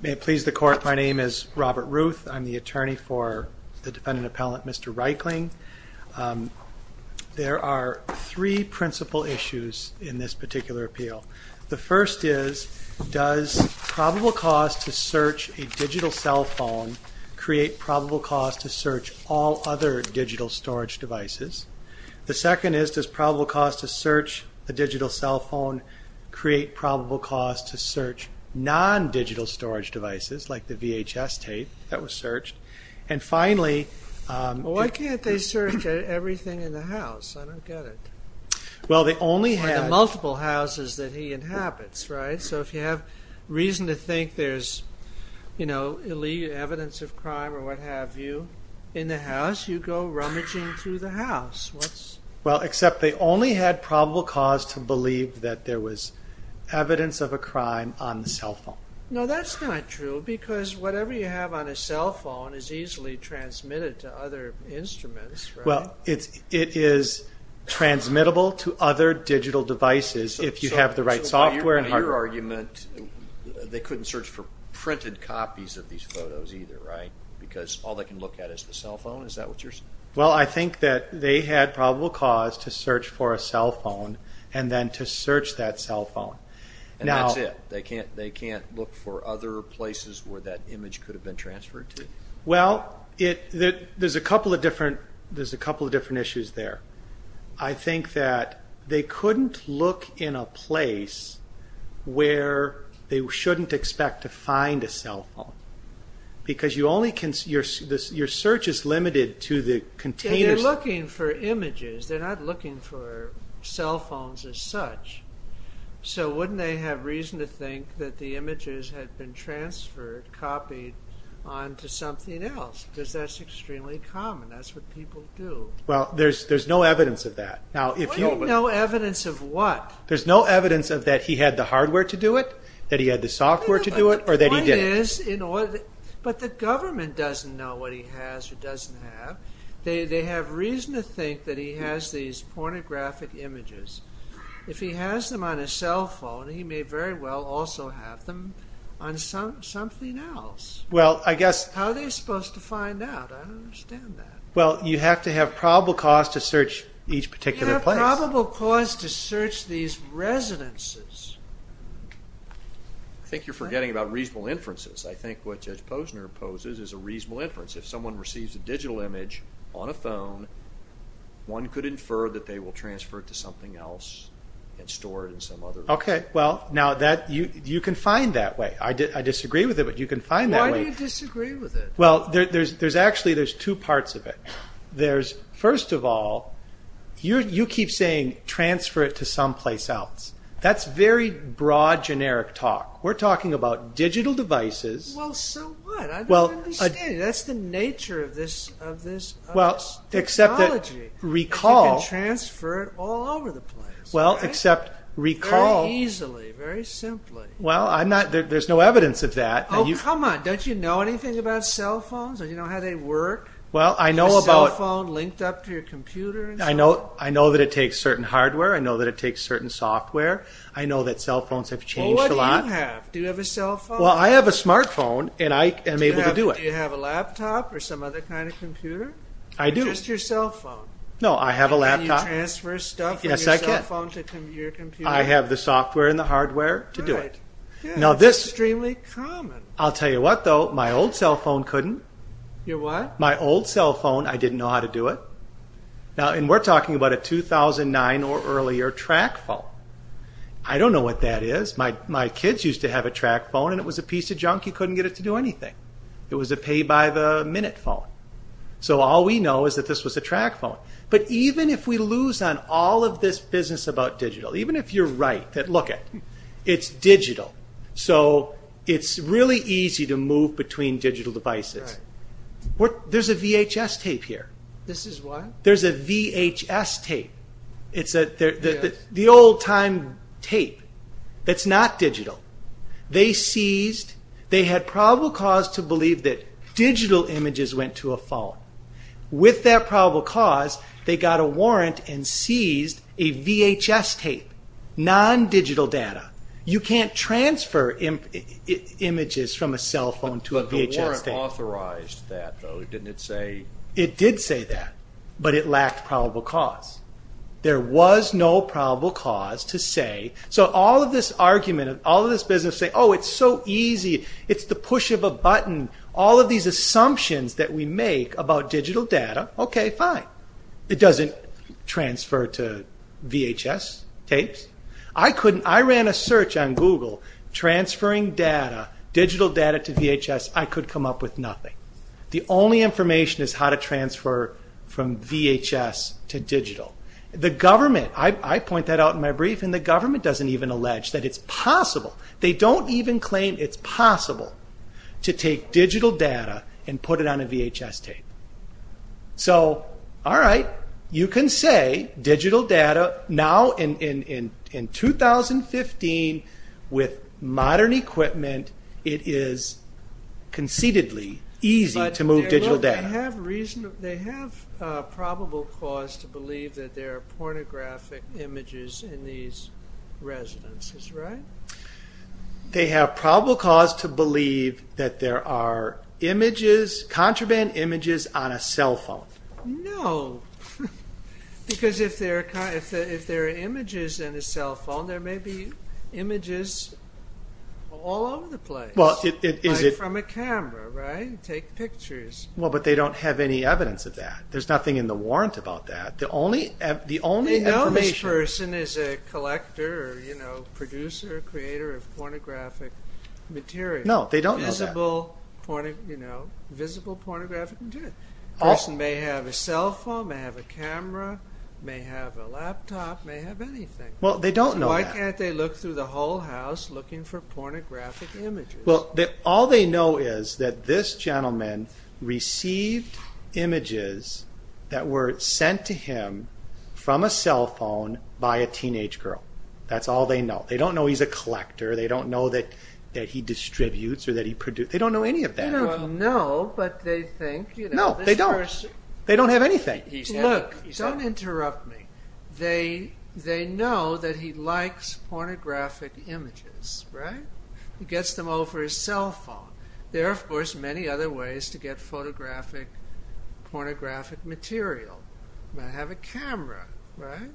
May it please the Court, my name is Robert Ruth, I'm the attorney for the defendant there are three principal issues in this particular appeal. The first is does probable cause to search a digital cell phone create probable cause to search all other digital storage devices? The second is does probable cause to search the digital cell phone create probable cause to search non-digital storage devices like the VHS tape that was searched? And finally why can't they search everything in the house? I don't get it. Well they only had multiple houses that he inhabits right so if you have reason to think there's you know evidence of crime or what have you in the house you go rummaging through the house. Well except they only had probable cause to believe that there was evidence of a crime on the cell phone. No that's not true because whatever you have on a instruments. Well it is transmittable to other digital devices if you have the right software. Your argument they couldn't search for printed copies of these photos either right because all they can look at is the cell phone is that what you're saying? Well I think that they had probable cause to search for a cell phone and then to search that cell phone. And that's it they can't they can't look for other places where that image could have been transferred to. Well it that there's a couple of different there's a couple of different issues there. I think that they couldn't look in a place where they shouldn't expect to find a cell phone because you only can see your search is limited to the containers. They're looking for images they're not looking for cell phones as such so wouldn't they have reason to think that the images had been transferred copied on to something else because that's extremely common. That's what people do. Well there's there's no evidence of that. No evidence of what? There's no evidence of that he had the hardware to do it that he had the software to do it or that he didn't. But the government doesn't know what he has or doesn't have. They have reason to think that he has these pornographic images. If he has them on a cell phone he's looking for something else. Well I guess. How are they supposed to find out? I don't understand that. Well you have to have probable cause to search each particular place. You have probable cause to search these residences. I think you're forgetting about reasonable inferences. I think what Judge Posner poses is a reasonable inference. If someone receives a digital image on a phone one could infer that they will transfer it to something else and store it in some other place. Okay well now that you can find that way. I disagree with it but you can find that way. Why do you disagree with it? Well there's actually there's two parts of it. There's first of all you keep saying transfer it to some place else. That's very broad generic talk. We're talking about digital devices. Well so what? I don't understand. That's the nature of this technology. You can transfer it all over the place. Well except recall easily very simply. Well I'm not there's no evidence of that. Oh come on don't you know anything about cell phones? Do you know how they work? Well I know about. Cell phone linked up to your computer. I know I know that it takes certain hardware. I know that it takes certain software. I know that cell phones have changed a lot. Well what do you have? Do you have a cell phone? Well I have a smartphone and I am able to do it. Do you have a laptop or some other kind of computer? I do. Or just your cell phone? No I have a laptop. Can you transfer stuff from your cell phone to your computer? Yes I can. I have the software and the hardware to do it. Now this is extremely common. I'll tell you what though my old cell phone couldn't. Your what? My old cell phone I didn't know how to do it. Now and we're talking about a 2009 or earlier track phone. I don't know what that is. My kids used to have a track phone and it was a piece of junk. You couldn't get it to do anything. It was a pay by the minute phone. So all we know is that this was a track phone. But even if we lose on all of this business about digital. Even if you're right that look at. It's digital. So it's really easy to move between digital devices. There's a VHS tape here. This is what? There's a VHS tape. It's the old time tape. It's not digital. They seized. They had probable cause to believe that digital images went to a phone. With that probable cause they got a warrant and seized a VHS tape. Non-digital data. You can't transfer images from a cell phone to a VHS tape. But the warrant authorized that though. Didn't it say? It did say that but it lacked probable cause. There was no probable cause to say. So all of this argument and all of this business say oh it's so easy. It's the push of a button. All of these assumptions that we make about digital data. Okay fine. It doesn't transfer to VHS tapes. I couldn't I ran a search on Google transferring digital data to VHS. I could come up with nothing. The only information is how to transfer from VHS to digital. The government. I point that out in my brief and the government doesn't even allege that it's possible. They don't even claim it's possible to take digital data and put it on a VHS tape. So all right. You can say digital data now in 2015 with modern equipment it is conceitedly easy to move digital data. But they have probable cause to believe that there are pornographic images in these residences right? They have probable cause to believe that there are images contraband images on a cell phone. No. Because if there are images in a cell phone there may be images all over the place. Well it is it from a camera right? Take pictures. Well but they don't have any evidence of that. There's nothing in the warrant about that. The only information. They know this person is a collector or you know producer or creator of pornographic material. No they don't know that. Visible pornographic material. A person may have a cell phone, may have a camera, may have a laptop, may have anything. Well they don't know that. Why can't they look through the whole house looking for pornographic images? Well all they know is that this gentleman received images that were sent to him from a cell phone by a teenage girl. That's all they know. They don't know he's a collector. They don't know that he distributes or that he produces. They don't know any of that. They don't know but they think. No they don't. They don't have anything. Look, don't interrupt me. They know that he likes pornographic images right? He gets them over his cell phone. There are of course many other ways to get pornographic material. He may have a camera right?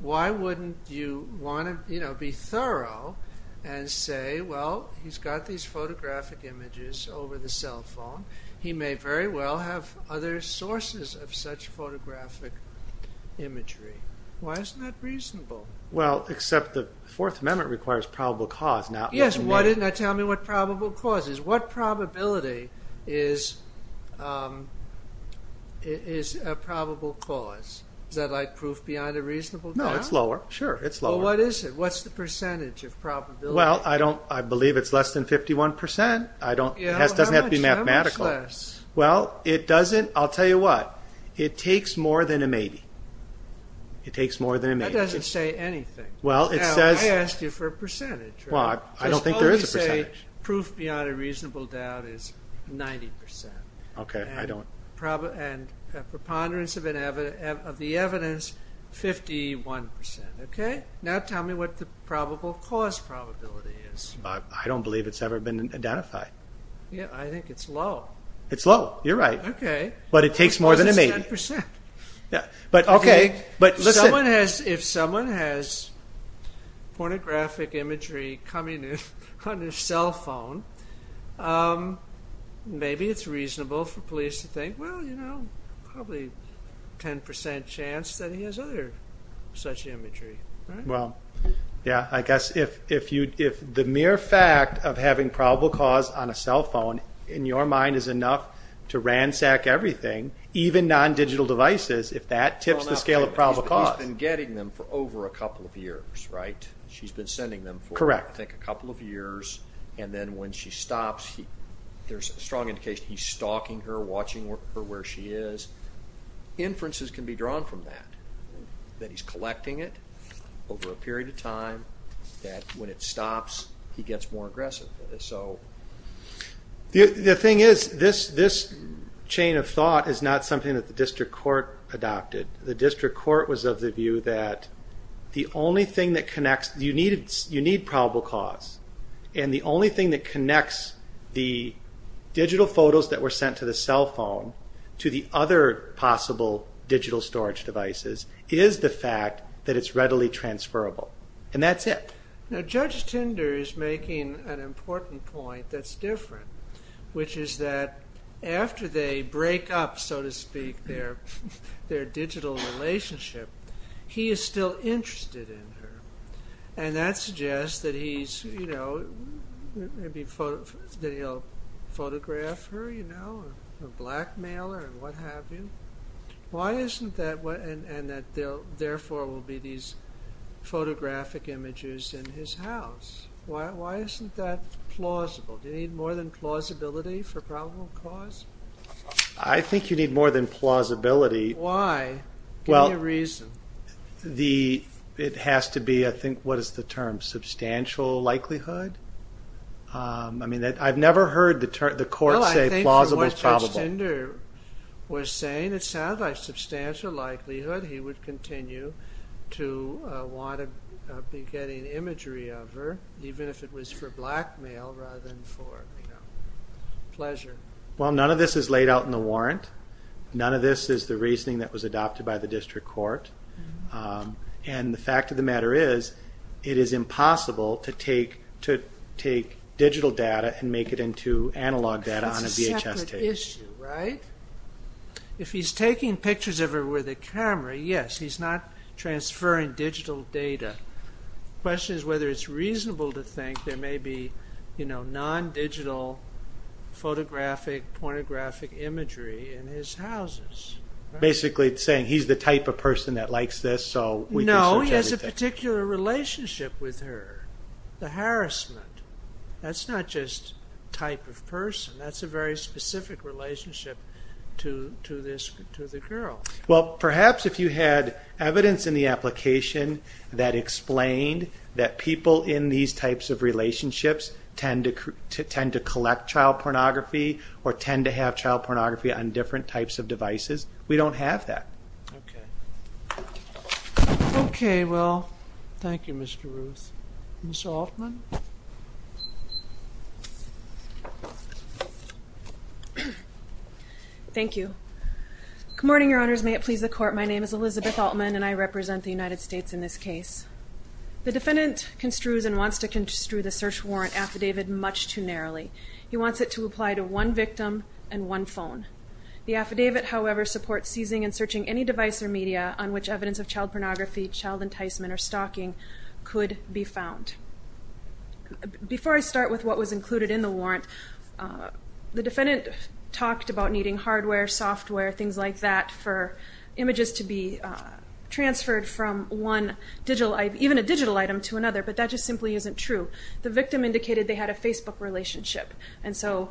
Why wouldn't you want to be thorough and say well he's got these pornographic images over the cell phone. He may very well have other sources of such pornographic imagery. Why isn't that reasonable? Well except the Fourth Amendment requires probable cause. Yes, tell me what probable cause is. What probability is a probable cause? Is that like proof beyond a reasonable doubt? No, it's lower. Well what is it? What's the percentage of probability? Well I believe it's less than 51%. It doesn't have to be mathematical. How much less? Well it doesn't, I'll tell you what, it takes more than a maybe. That doesn't say anything. Well it says I asked you for a percentage. Well I don't think there is a percentage. Proof beyond a reasonable doubt is 90%. Okay, I don't And preponderance of the evidence 51%. Now tell me what the probable cause probability is. I don't believe it's ever been identified. Yeah, I think it's low. It's low, you're right. But it takes more than a maybe. If someone has pornographic imagery coming in on their cell phone, maybe it's reasonable for police to think, well you know, probably 10% chance that he has other such imagery. Well, yeah, I guess if the mere fact of having probable cause on a cell phone in your mind is enough to ransack everything, even non-digital devices, if that tips the scale of probable cause. He's been getting them for over a couple of years, right? She's been sending them for, I think, a couple of years. And then when she stops, there's a strong indication he's stalking her, watching her where she is. Inferences can be drawn from that. That he's collecting it over a period of time. That when it stops, he gets more aggressive. The thing is, this chain of thought is not something that the district court adopted. The district court was of the view that the only thing that connects, you need probable cause. And the only thing that connects the digital photos that were sent to the cell phone to the other possible digital storage devices is the fact that it's readily transferable. And that's it. Judge Tinder is making an important point that's different, which is that after they break up, so to speak, their digital relationship, he is still interested in her. And that suggests that he's, you know, that he'll photograph her, you know, or blackmail her, or what have you. Why isn't that? And that therefore will be these photographic images in his house. Why isn't that plausible? Do you need more than plausibility for probable cause? I think you need more than plausibility. Why? Give me a reason. It has to be, I think, what is the term? I've never heard the court say plausible is probable. Judge Tinder was saying it sounded like substantial likelihood he would continue to want to be getting imagery of her even if it was for blackmail rather than for pleasure. Well, none of this is laid out in the warrant. None of this is the reasoning that was adopted by the district court. And the fact of the matter is, it is impossible to take digital data and make it into analog data on a VHS tape. That's a separate issue, right? If he's taking pictures of her with a camera, yes, he's not transferring digital data. The question is whether it's reasonable to think there may be, you know, non-digital photographic, pornographic imagery in his houses. Basically it's saying he's the type of person that likes this, so we can search everything. But this particular relationship with her, the harassment, that's not just type of person. That's a very specific relationship to the girl. Well, perhaps if you had evidence in the application that explained that people in these types of relationships tend to collect child pornography or tend to have child pornography on different types of devices, we don't have that. Okay. Okay, well, thank you, Mr. Ruth. Ms. Altman? Thank you. Good morning, Your Honors. May it please the Court, my name is Elizabeth Altman and I represent the United States in this case. The defendant construes and wants to construe the search warrant affidavit much too narrowly. He wants it to apply to one victim and one phone. The affidavit, however, supports seizing and searching any device or media on which evidence of child pornography, child enticement, or stalking could be found. Before I start with what was included in the warrant, the defendant talked about needing hardware, software, things like that for images to be transferred from one digital, even a digital item to another, but that just simply isn't true. The victim indicated they had a Facebook relationship and so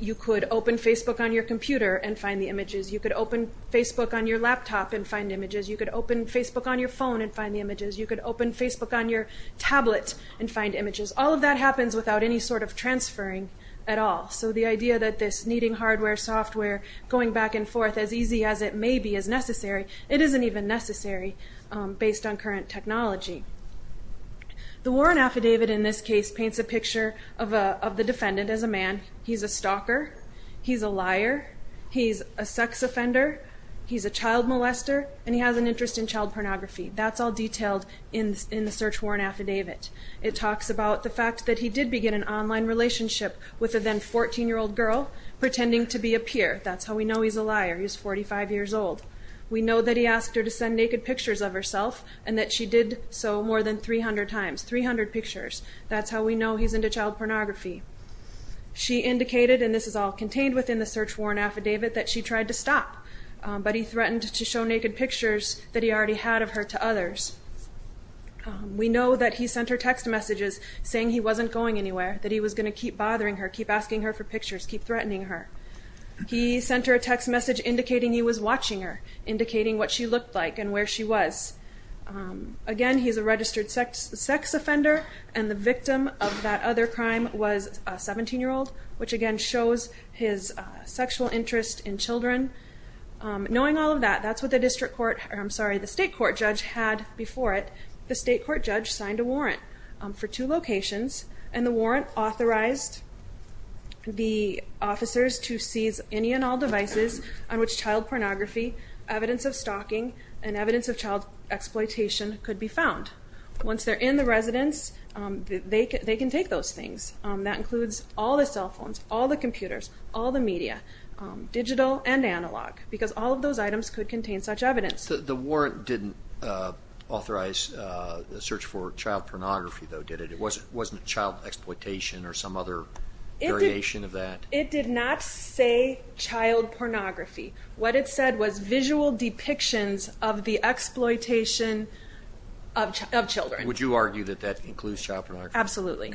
you could open Facebook on your computer and find the images, you could open Facebook on your laptop and find images, you could open Facebook on your phone and find the images, you could open Facebook on your tablet and find images, all of that happens without any sort of transferring at all, so the idea that this needing hardware, software, going back and forth as easy as it may be is necessary, it isn't even necessary based on current technology. The warrant affidavit in this case paints a picture of the defendant as a man, he's a stalker, he's a liar, he's a sex offender, he's a child molester, and he has an interest in child pornography, that's all detailed in the search warrant affidavit. It talks about the fact that he did begin an online relationship with a then 14-year-old girl pretending to be a peer, that's how we know he's a liar, he's 45 years old. We know that he asked her to send naked pictures, so more than 300 times, 300 pictures, that's how we know he's into child pornography. She indicated, and this is all contained within the search warrant affidavit, that she tried to stop, but he threatened to show naked pictures that he already had of her to others. We know that he sent her text messages saying he wasn't going anywhere, that he was going to keep bothering her, keep asking her for pictures, keep threatening her. He sent her a text message indicating he was watching her, indicating what she looked like and where she was. Again, he's a registered sex offender, and the victim of that other crime was a 17-year-old, which again shows his sexual interest in children. Knowing all of that, that's what the district court, I'm sorry, the state court judge had before it. The state court judge signed a warrant for two locations, and the warrant authorized the officers to seize any and all devices on which child pornography, evidence of stalking, and evidence of child exploitation could be found. Once they're in the residence, they can take those things. That includes all the cell phones, all the computers, all the media, digital and analog, because all of those items could contain such evidence. The warrant didn't authorize the search for child pornography, though, did it? It wasn't child exploitation or some other variation of that? It did not say child pornography. What it said was visual depictions of the exploitation of children. Would you argue that that includes child pornography? Absolutely.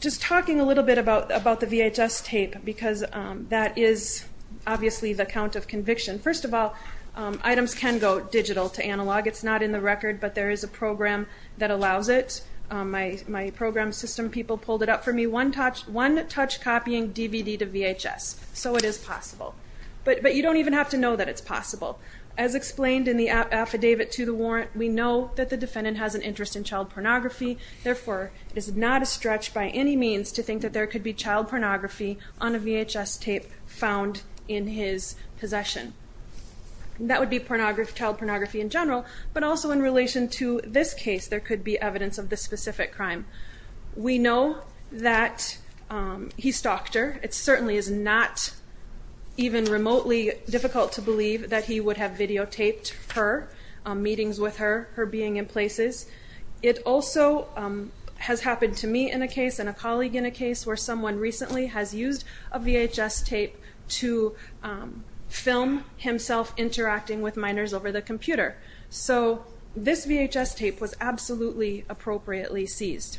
Just talking a little bit about the VHS tape, because that is obviously the count of conviction. First of all, items can go digital to analog. It's not in the record, but there is a program that allows it. My program system people pulled it up for me. One-touch copying DVD to VHS, so it is possible. But you don't even have to know that it's possible. As explained in the affidavit to the warrant, we know that the defendant has an interest in child pornography, therefore it is not a stretch by any means to think that there could be child pornography on a VHS tape found in his possession. That would be child pornography in general, but also in relation to this case, there could be evidence of this specific crime. We know that he stalked her. It certainly is not even remotely difficult to believe that he would have videotaped her, meetings with her, her being in places. It also has happened to me in a case, and a colleague in a case, where someone recently has used a VHS tape to film himself interacting with minors over the computer. So this VHS tape was absolutely appropriately seized.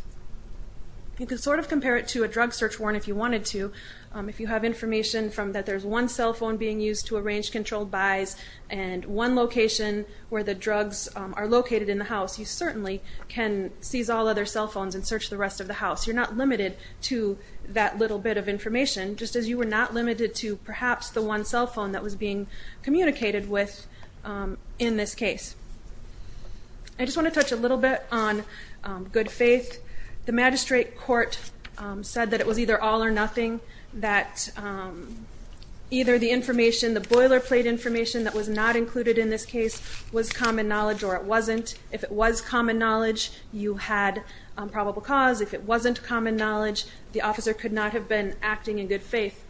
You can sort of compare it to a drug search warrant if you wanted to. If you have information that there is one cell phone being used to arrange controlled buys and one location where the drugs are located in the house, and search the rest of the house. You're not limited to that little bit of information just as you were not limited to perhaps the one cell phone that was being communicated with in this case. I just want to touch a little bit on good faith. The magistrate court said that it was either all or nothing that either the information, the boilerplate information that was not included in this case was common knowledge or it wasn't. If it was common knowledge, you had probable cause. If it wasn't common knowledge, the officer could not have been acting in good faith.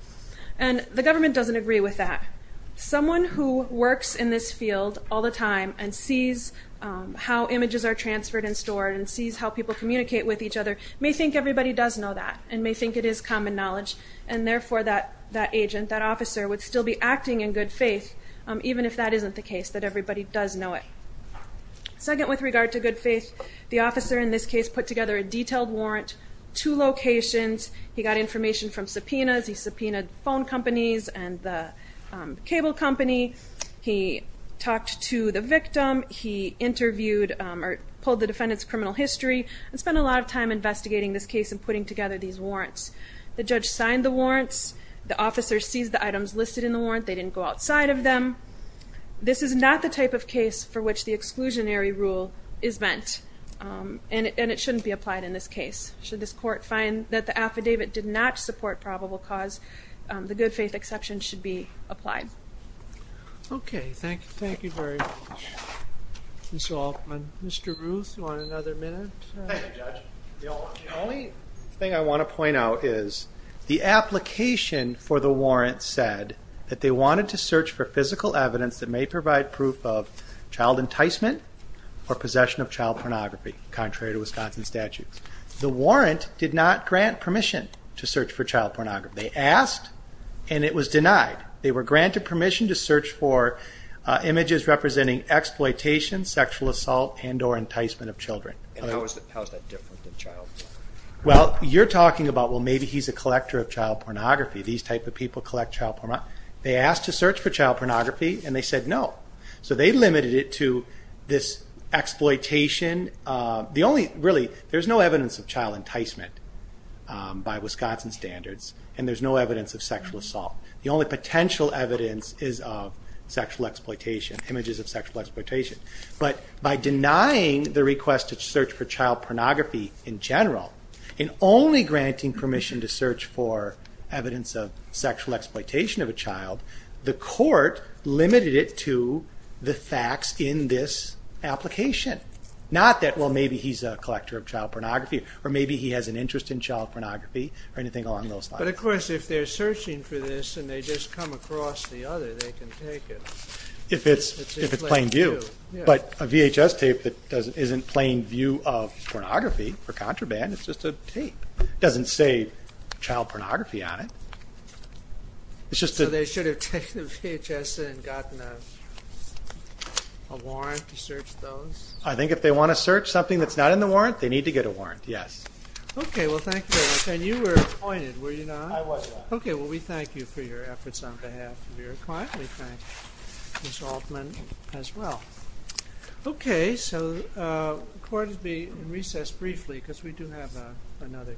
And the government doesn't agree with that. Someone who works in this field all the time and sees how images are transferred and stored and sees how people communicate with each other may think everybody does know that and may think it is common knowledge and therefore that agent, that officer would still be acting in good faith even if that isn't the case, that everybody does know it. Second with regard to good faith, the officer in this case put together a detailed warrant, two locations. He got information from subpoenas. He subpoenaed phone companies and the cable company. He talked to the victim. He interviewed or pulled the defendant's criminal history and spent a lot of time investigating this case and putting together these warrants. The judge signed the warrants. The officer sees the items listed in the warrant. They didn't go outside of them. This is not the type of case for which the exclusionary rule is meant and it shouldn't be applied in this case. Should this court find that the affidavit did not support probable cause, the good faith exception should be applied. Thank you very much, Ms. Altman. Mr. Ruth, do you want another minute? The only thing I want to point out is the application for the warrant said that they wanted to search for physical evidence that may provide proof of child enticement or possession of child pornography contrary to Wisconsin statutes. The warrant did not grant permission to search for child pornography. They asked and it was denied. They were granted permission to search for images representing exploitation, sexual assault, and or enticement of children. How is that different than child pornography? Maybe he's a collector of child pornography. These type of people collect child pornography. They asked to search for child pornography and they said no. There's no evidence of child enticement by Wisconsin standards and there's no evidence of sexual assault. The only potential evidence is images of sexual exploitation. But by denying the request to search for child pornography in general and only granting permission to search for evidence of sexual exploitation of a child the court limited it to the facts in this application. Not that maybe he's a collector of child pornography or maybe he has an interest in child pornography. But of course if they're searching for this and they just come across the other they can take it. If it's plain view. But a VHS tape that isn't plain view of pornography or contraband, it's just a tape. It doesn't say child pornography on it. So they should have taken the VHS and gotten a warrant to search those? I think if they want to search something that's not in the warrant, they need to get a warrant. Thank you very much. We thank you for your efforts on behalf of your client. We thank Ms. Altman as well. The court will be in recess briefly because we do have another case.